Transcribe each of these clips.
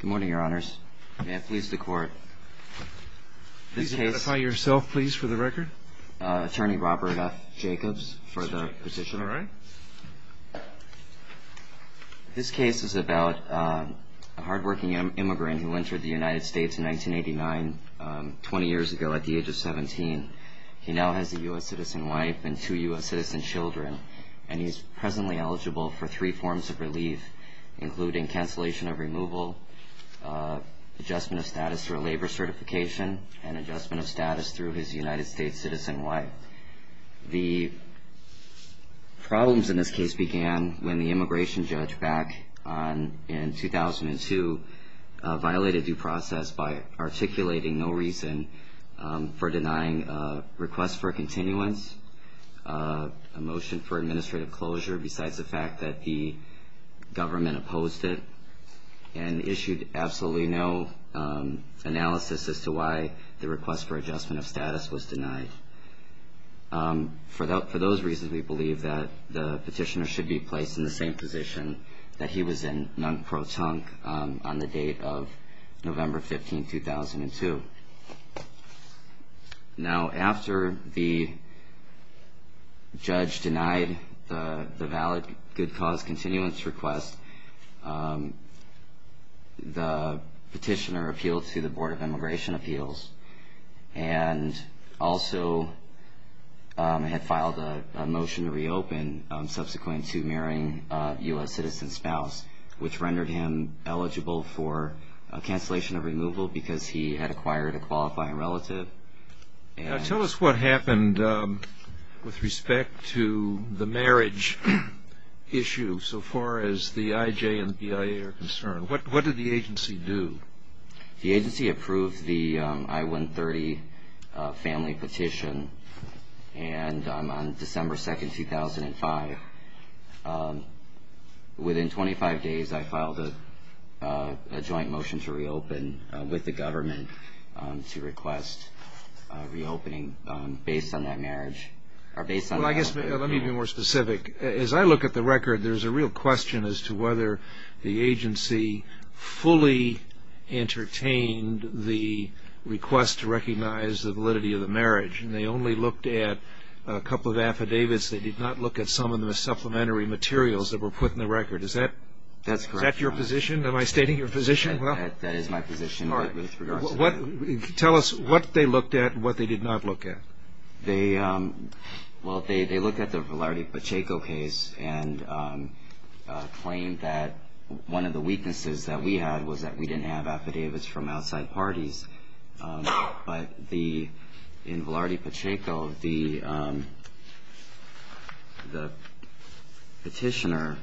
Good morning, your honors. May I please the court? Please identify yourself, please, for the record. Attorney Robert F. Jacobs for the position. This case is about a hard-working immigrant who entered the United States in 1989, 20 years ago at the age of 17. He now has a U.S. citizen wife and two U.S. citizen children, and he's presently eligible for three forms of relief, including cancellation of removal, adjustment of status through a labor certification, and adjustment of status through his United States citizen wife. The problems in this case began when the immigration judge back in 2002 violated due process by articulating no reason for denying a request for continuance, a motion for administrative closure, besides the fact that the government opposed it, and issued absolutely no analysis as to why the request for adjustment of status was denied. For those reasons, we believe that the petitioner should be placed in the same position that he was in, non-pro-tunk, on the date of November 15, 2002. Now, after the judge denied the valid good cause continuance request, the petitioner appealed to the Board of Immigration Appeals, and also had filed a motion to reopen subsequent to marrying a U.S. citizen spouse, which rendered him eligible for cancellation of removal because he had acquired a qualifying relative. Tell us what happened with respect to the marriage issue, so far as the IJ and the BIA are concerned. What did the agency do? The agency approved the I-130 family petition, and on December 2, 2005, within 25 days, I filed a joint motion to reopen with the government to request reopening based on that marriage. Well, I guess, let me be more specific. As I look at the record, there's a real question as to whether the agency fully entertained the request to recognize the validity of the marriage. They only looked at a couple of affidavits. They did not look at some of the supplementary materials that were put in the record. Is that your position? Am I stating your position? That is my position with regard to that. Tell us what they looked at and what they did not look at. Well, they looked at the Velarde Pacheco case and claimed that one of the weaknesses that we had was that we didn't have affidavits from outside parties. But in Velarde Pacheco, the petitioner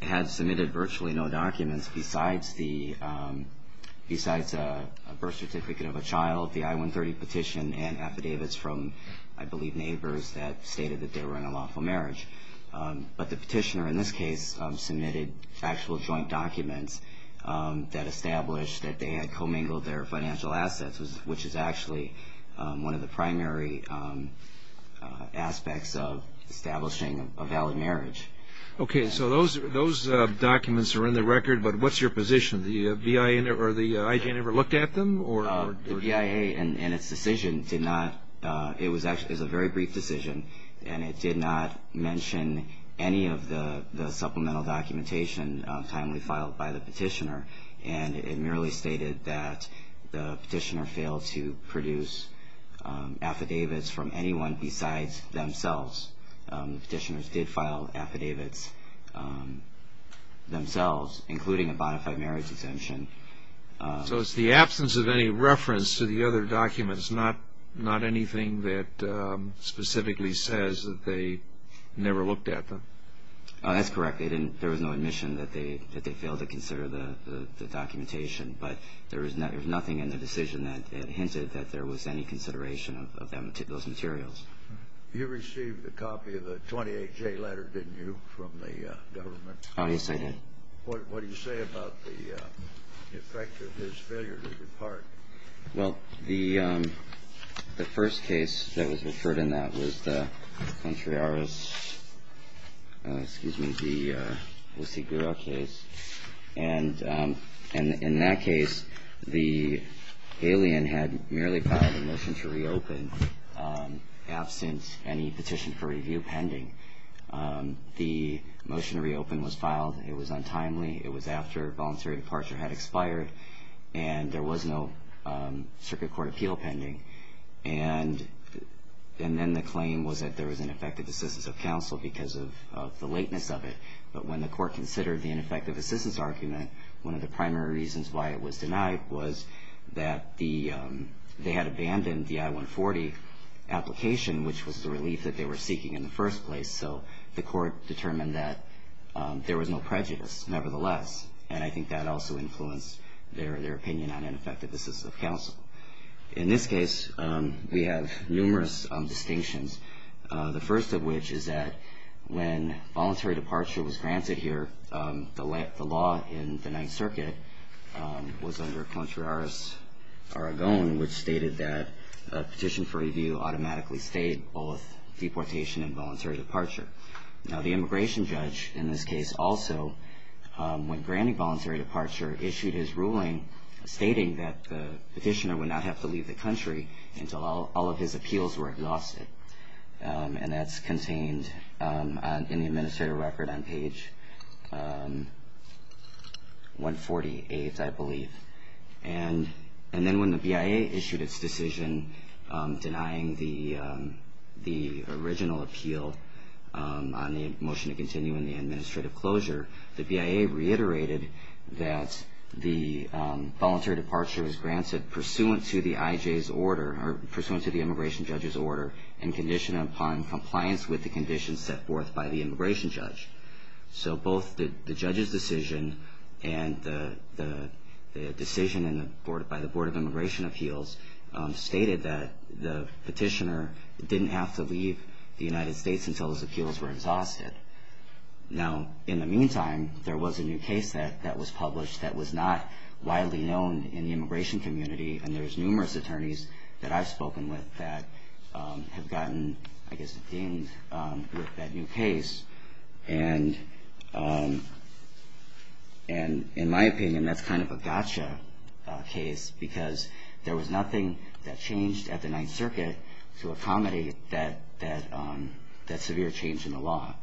had submitted virtually no documents besides a birth certificate of a child, the I-130 petition, and affidavits from, I believe, neighbors that stated that they were in a lawful marriage. But the petitioner in this case submitted factual joint documents that established that they had commingled their financial assets, which is actually one of the primary aspects of establishing a valid marriage. Okay. So those documents are in the record, but what's your position? Did the VIA or the IGN ever look at them? The VIA in its decision did not. It was actually a very brief decision, and it did not mention any of the supplemental documentation timely filed by the petitioner. And it merely stated that the petitioner failed to produce affidavits from anyone besides themselves. The petitioners did file affidavits themselves, including a bona fide marriage exemption. So it's the absence of any reference to the other documents, not anything that specifically says that they never looked at them? That's correct. There was no admission that they failed to consider the documentation, but there was nothing in the decision that hinted that there was any consideration of those materials. You received a copy of the 28-J letter, didn't you, from the government? Yes, I did. What do you say about the effect of his failure to depart? Well, the first case that was referred in that was the Contreras, excuse me, the Osigura case. And in that case, the alien had merely filed a motion to reopen absent any petition for review pending. The motion to reopen was filed. It was untimely. It was after voluntary departure had expired. And there was no circuit court appeal pending. And then the claim was that there was ineffective assistance of counsel because of the lateness of it. But when the court considered the ineffective assistance argument, one of the primary reasons why it was denied was that they had abandoned the I-140 application, which was the relief that they were seeking in the first place. So the court determined that there was no prejudice, nevertheless. And I think that also influenced their opinion on ineffective assistance of counsel. In this case, we have numerous distinctions, the first of which is that when voluntary departure was granted here, the law in the Ninth Circuit was under Contreras-Aragon, which stated that a petition for review automatically stayed both deportation and voluntary departure. Now, the immigration judge in this case also, when granting voluntary departure, issued his ruling stating that the petitioner would not have to leave the country until all of his appeals were exhausted. And that's contained in the administrative record on page 148, I believe. And then when the BIA issued its decision denying the original appeal on the motion to continue in the administrative closure, the BIA reiterated that the voluntary departure was granted pursuant to the IJ's order, or pursuant to the immigration judge's order, and conditioned upon compliance with the conditions set forth by the immigration judge. So both the judge's decision and the decision by the Board of Immigration Appeals stated that the petitioner didn't have to leave the United States until his appeals were exhausted. Now, in the meantime, there was a new case that was published that was not widely known in the immigration community, and there's numerous attorneys that I've spoken with that have gotten, I guess, dinged with that new case. And in my opinion, that's kind of a gotcha case, because there was nothing that changed at the Ninth Circuit to accommodate that severe change in the law.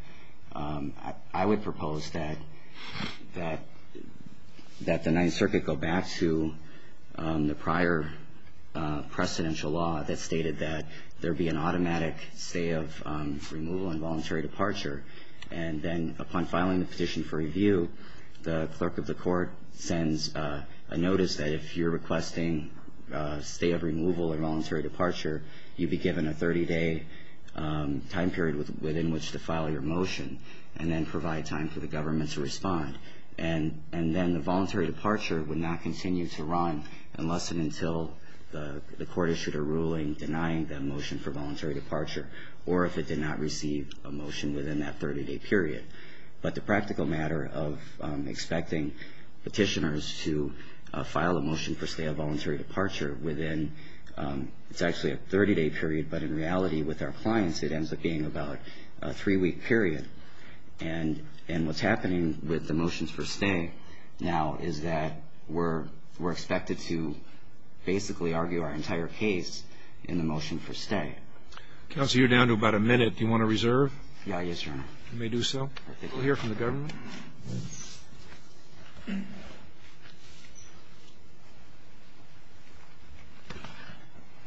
I would propose that the Ninth Circuit go back to the prior precedential law that stated that there be an automatic stay of removal and voluntary departure, and then upon filing the petition for review, the clerk of the court sends a notice that if you're requesting stay of removal and voluntary departure, you'd be given a 30-day time period within which to file your motion, and then the voluntary departure would not continue to run unless and until the court issued a ruling denying that motion for voluntary departure, or if it did not receive a motion within that 30-day period. But the practical matter of expecting petitioners to file a motion for stay of voluntary departure within it's actually a 30-day period, but in reality, with our clients, it ends up being about a three-week period. And what's happening with the motions for stay now is that we're expected to basically argue our entire case in the motion for stay. Counsel, you're down to about a minute. Do you want to reserve? Yeah, yes, Your Honor. You may do so. We'll hear from the government.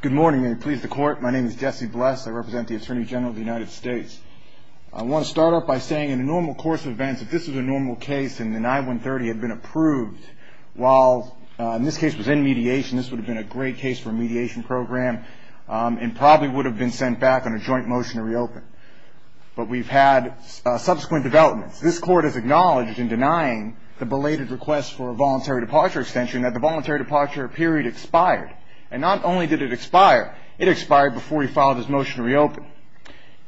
Good morning, and please the court. My name is Jesse Bless. I represent the Attorney General of the United States. I want to start off by saying, in the normal course of events, if this was a normal case and the 9-130 had been approved, while in this case it was in mediation, this would have been a great case for a mediation program and probably would have been sent back on a joint motion to reopen. But we've had subsequent developments. This Court has acknowledged in denying the belated request for a voluntary departure extension that the voluntary departure period expired. And not only did it expire, it expired before we filed this motion to reopen.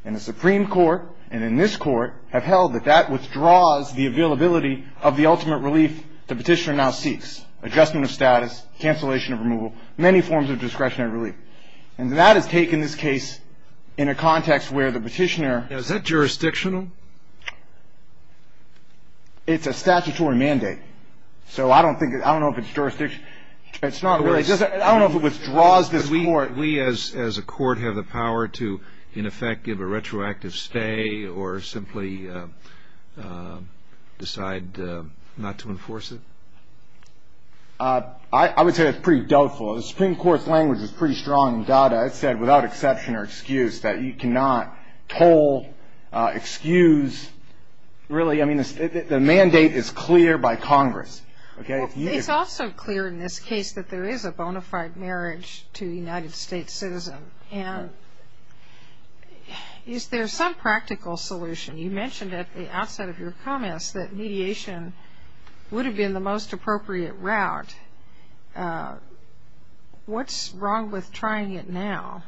And the Supreme Court, and in this Court, have held that that withdraws the availability of the ultimate relief the petitioner now seeks, adjustment of status, cancellation of removal, many forms of discretionary relief. And that has taken this case in a context where the petitioner ---- Is that jurisdictional? It's a statutory mandate. So I don't know if it's jurisdictional. It's not really. I don't know if it withdraws this Court. Does that mean that we as a Court have the power to, in effect, give a retroactive stay or simply decide not to enforce it? I would say that's pretty doubtful. The Supreme Court's language is pretty strong in DADA. It said, without exception or excuse, that you cannot toll, excuse, really. I mean, the mandate is clear by Congress. It's also clear in this case that there is a bona fide marriage to a United States citizen. And is there some practical solution? You mentioned at the outset of your comments that mediation would have been the most appropriate route. What's wrong with trying it now?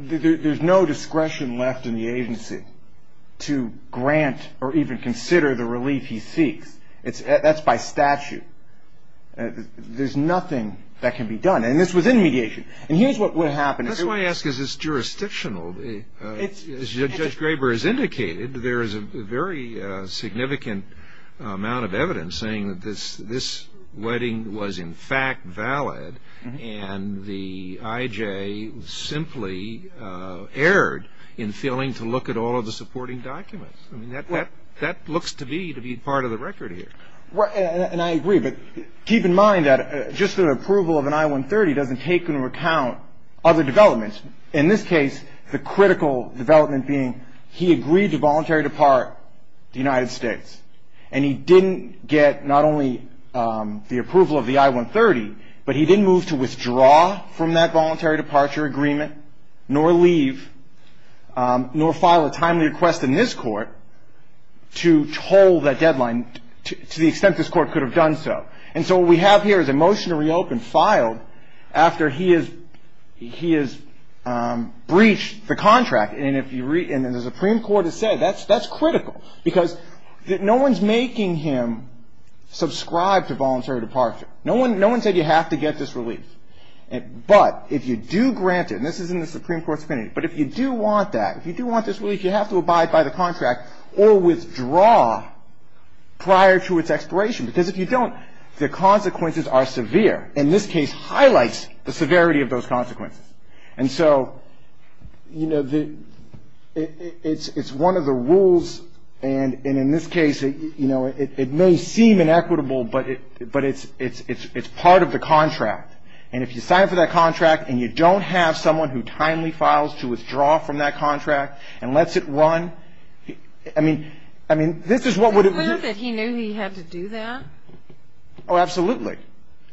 There's no discretion left in the agency to grant or even consider the relief he seeks. That's by statute. There's nothing that can be done. And this was in mediation. And here's what would have happened. That's what I ask. Is this jurisdictional? As Judge Graber has indicated, there is a very significant amount of evidence saying that this wedding was in fact valid and the IJ simply erred in failing to look at all of the supporting documents. I mean, that looks to be to be part of the record here. And I agree. But keep in mind that just the approval of an I-130 doesn't take into account other developments. In this case, the critical development being he agreed to voluntary depart the United States. And he didn't get not only the approval of the I-130, but he didn't move to withdraw from that voluntary departure agreement, nor leave, nor file a timely request in this court to hold that deadline to the extent this court could have done so. And so what we have here is a motion to reopen filed after he has breached the contract. And the Supreme Court has said that's critical because no one's making him subscribe to voluntary departure. No one said you have to get this relief. But if you do grant it, and this is in the Supreme Court's opinion, but if you do want that, if you do want this relief, you have to abide by the contract or withdraw prior to its expiration. Because if you don't, the consequences are severe. And this case highlights the severity of those consequences. And so, you know, it's one of the rules. And in this case, you know, it may seem inequitable, but it's part of the contract. And if you sign for that contract, and you don't have someone who timely files to withdraw from that contract and lets it run, I mean, this is what would have been. He knew he had to do that? Oh, absolutely.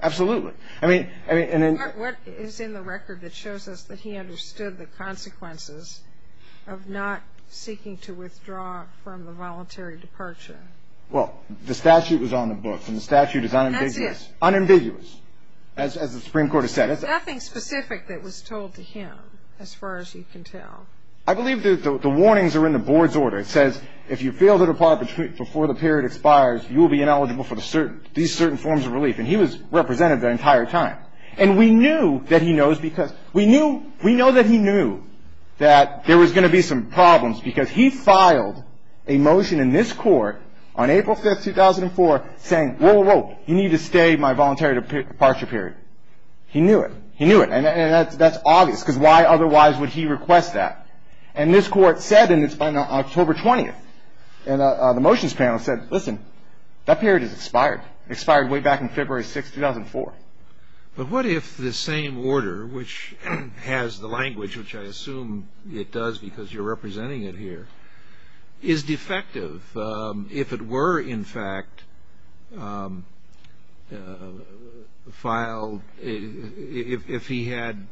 Absolutely. What is in the record that shows us that he understood the consequences of not seeking to withdraw from the voluntary departure? Well, the statute was on the book. And the statute is unambiguous. That's it. Unambiguous, as the Supreme Court has said. There's nothing specific that was told to him, as far as you can tell. I believe the warnings are in the board's order. It says if you fail to depart before the period expires, you will be ineligible for these certain forms of relief. And he was representative the entire time. And we knew that he knows because we knew that he knew that there was going to be some problems because he filed a motion in this court on April 5th, 2004, saying, whoa, whoa, whoa, you need to stay my voluntary departure period. He knew it. He knew it. And that's obvious because why otherwise would he request that? And this court said, and it's on October 20th, and the motions panel said, listen, that period has expired. It expired way back in February 6th, 2004. But what if the same order, which has the language, which I assume it does because you're representing it here, is defective? If it were, in fact, filed, if he had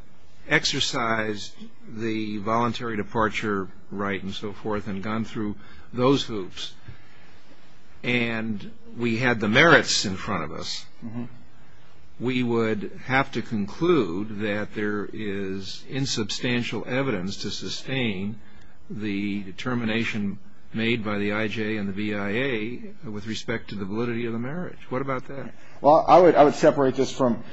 exercised the voluntary departure right and so forth and gone through those hoops and we had the merits in front of us, we would have to conclude that there is insubstantial evidence to sustain the determination made by the IJ and the BIA with respect to the validity of the marriage. What about that? Well, I would separate this from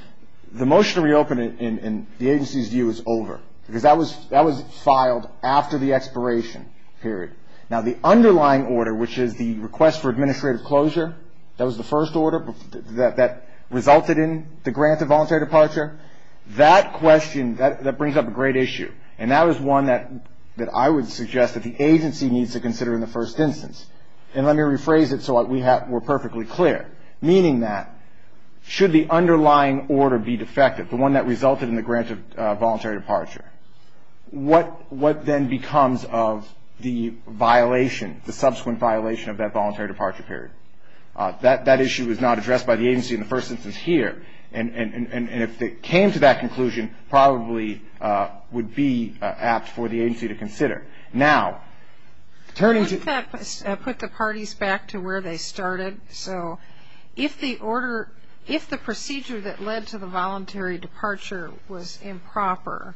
the motion to reopen in the agency's view is over because that was filed after the expiration period. Now, the underlying order, which is the request for administrative closure, that was the first order, that resulted in the grant of voluntary departure, that question, that brings up a great issue. And that was one that I would suggest that the agency needs to consider in the first instance. And let me rephrase it so we're perfectly clear, meaning that should the underlying order be defective, the one that resulted in the grant of voluntary departure, what then becomes of the violation, the subsequent violation of that voluntary departure period? That issue is not addressed by the agency in the first instance here. And if it came to that conclusion, probably would be apt for the agency to consider. Now, turning to the- Wouldn't that put the parties back to where they started? So if the procedure that led to the voluntary departure was improper,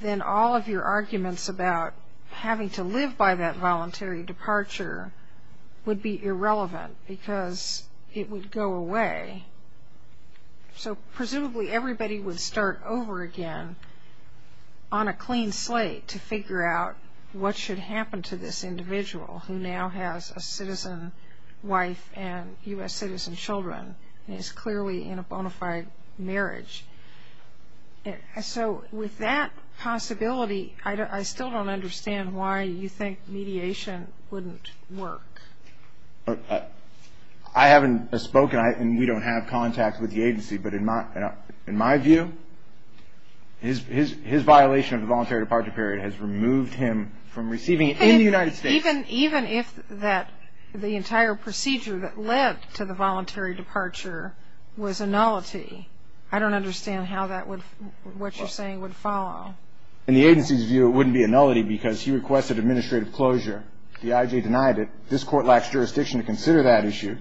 then all of your arguments about having to live by that voluntary departure would be irrelevant because it would go away. So presumably everybody would start over again on a clean slate to figure out what should happen to this individual who now has a citizen wife and U.S. citizen children and is clearly in a bona fide marriage. So with that possibility, I still don't understand why you think mediation wouldn't work. I haven't spoken, and we don't have contact with the agency. But in my view, his violation of the voluntary departure period has removed him from receiving it in the United States. Even if the entire procedure that led to the voluntary departure was a nullity, I don't understand how what you're saying would follow. In the agency's view, it wouldn't be a nullity because he requested administrative closure. The IG denied it. This Court lacks jurisdiction to consider that issue.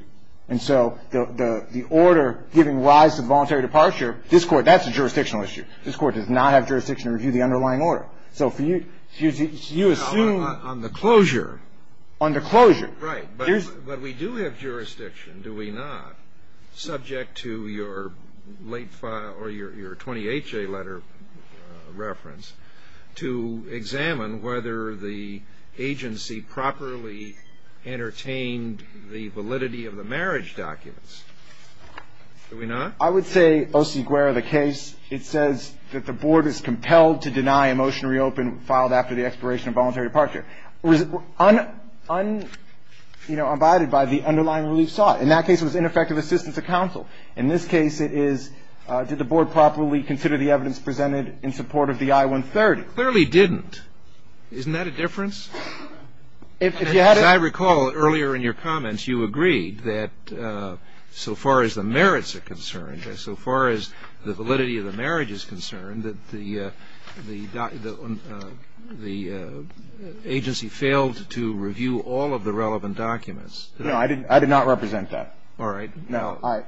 And so the order giving rise to the voluntary departure, this Court, that's a jurisdictional issue. This Court does not have jurisdiction to review the underlying order. So for you, you assume on the closure. On the closure. Right. But we do have jurisdiction, do we not, subject to your late file or your 28-J letter reference, to examine whether the agency properly entertained the validity of the marriage documents. Do we not? I would say, O.C. Guerra, the case, it says that the Board is compelled to deny a motion to reopen filed after the expiration of voluntary departure. Unabided by the underlying relief sought. In that case, it was ineffective assistance to counsel. In this case, it is, did the Board properly consider the evidence presented in support of the I-130? It clearly didn't. Isn't that a difference? As I recall, earlier in your comments, you agreed that so far as the merits are concerned, so far as the validity of the marriage is concerned, that the agency failed to review all of the relevant documents. No, I did not represent that. All right. No.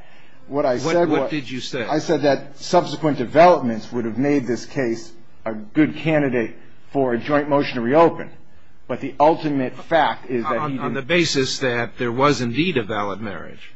What I said was What did you say? I said that subsequent developments would have made this case a good candidate for a joint motion to reopen. But the ultimate fact is that he didn't. On the basis that there was indeed a valid marriage.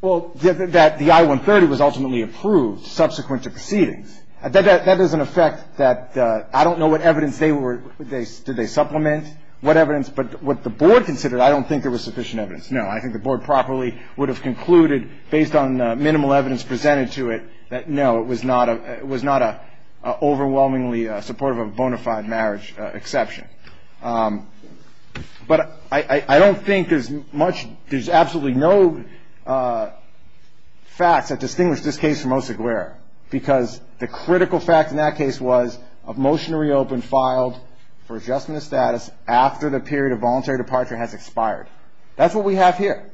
Well, that the I-130 was ultimately approved subsequent to proceedings. That is an effect that I don't know what evidence they were, did they supplement, what evidence, but what the Board considered, I don't think there was sufficient evidence. No, I think the Board properly would have concluded, based on minimal evidence presented to it, that no, it was not an overwhelmingly supportive of a bona fide marriage exception. But I don't think there's much, there's absolutely no facts that distinguish this case from Oseguera. Because the critical fact in that case was a motion to reopen filed for adjustment of status after the period of voluntary departure has expired. That's what we have here.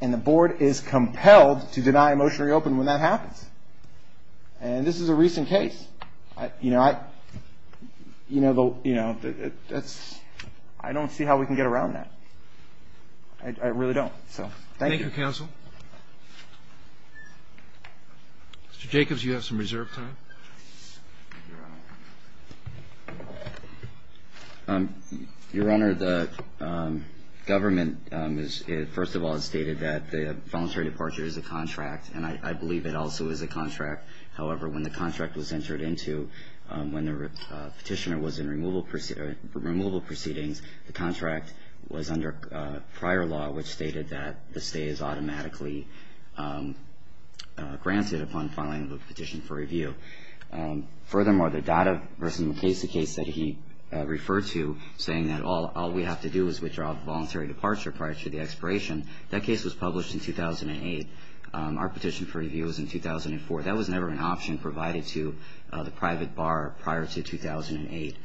And the Board is compelled to deny a motion to reopen when that happens. And this is a recent case. You know, I don't see how we can get around that. I really don't. So, thank you. Thank you, Counsel. Mr. Jacobs, you have some reserve time. Thank you, Your Honor. Your Honor, the government, first of all, has stated that the voluntary departure is a contract, and I believe it also is a contract. However, when the contract was entered into, when the petitioner was in removal proceedings, the contract was under prior law, which stated that the stay is automatically granted upon filing the petition for review. Furthermore, the Dada v. McKay's case that he referred to, saying that all we have to do is withdraw the voluntary departure prior to the expiration, that case was published in 2008. Our petition for review was in 2004. That was never an option provided to the private bar prior to 2008.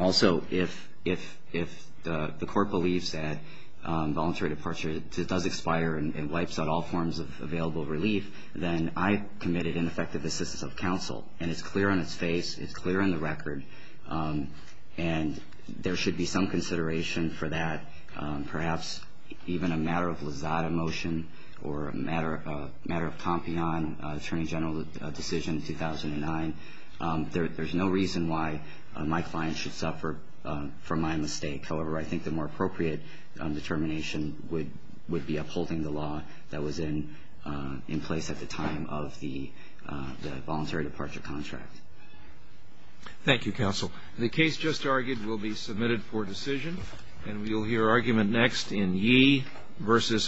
Also, if the court believes that voluntary departure does expire and wipes out all forms of available relief, then I committed ineffective assistance of counsel. And it's clear on its face. It's clear on the record. And there should be some consideration for that. Perhaps even a matter of lazada motion or a matter of campeon, Attorney General decision 2009. There's no reason why my client should suffer from my mistake. However, I think the more appropriate determination would be upholding the law that was in place at the time of the voluntary departure contract. Thank you, counsel. The case just argued will be submitted for decision, and we'll hear argument next in Yee v. Holder.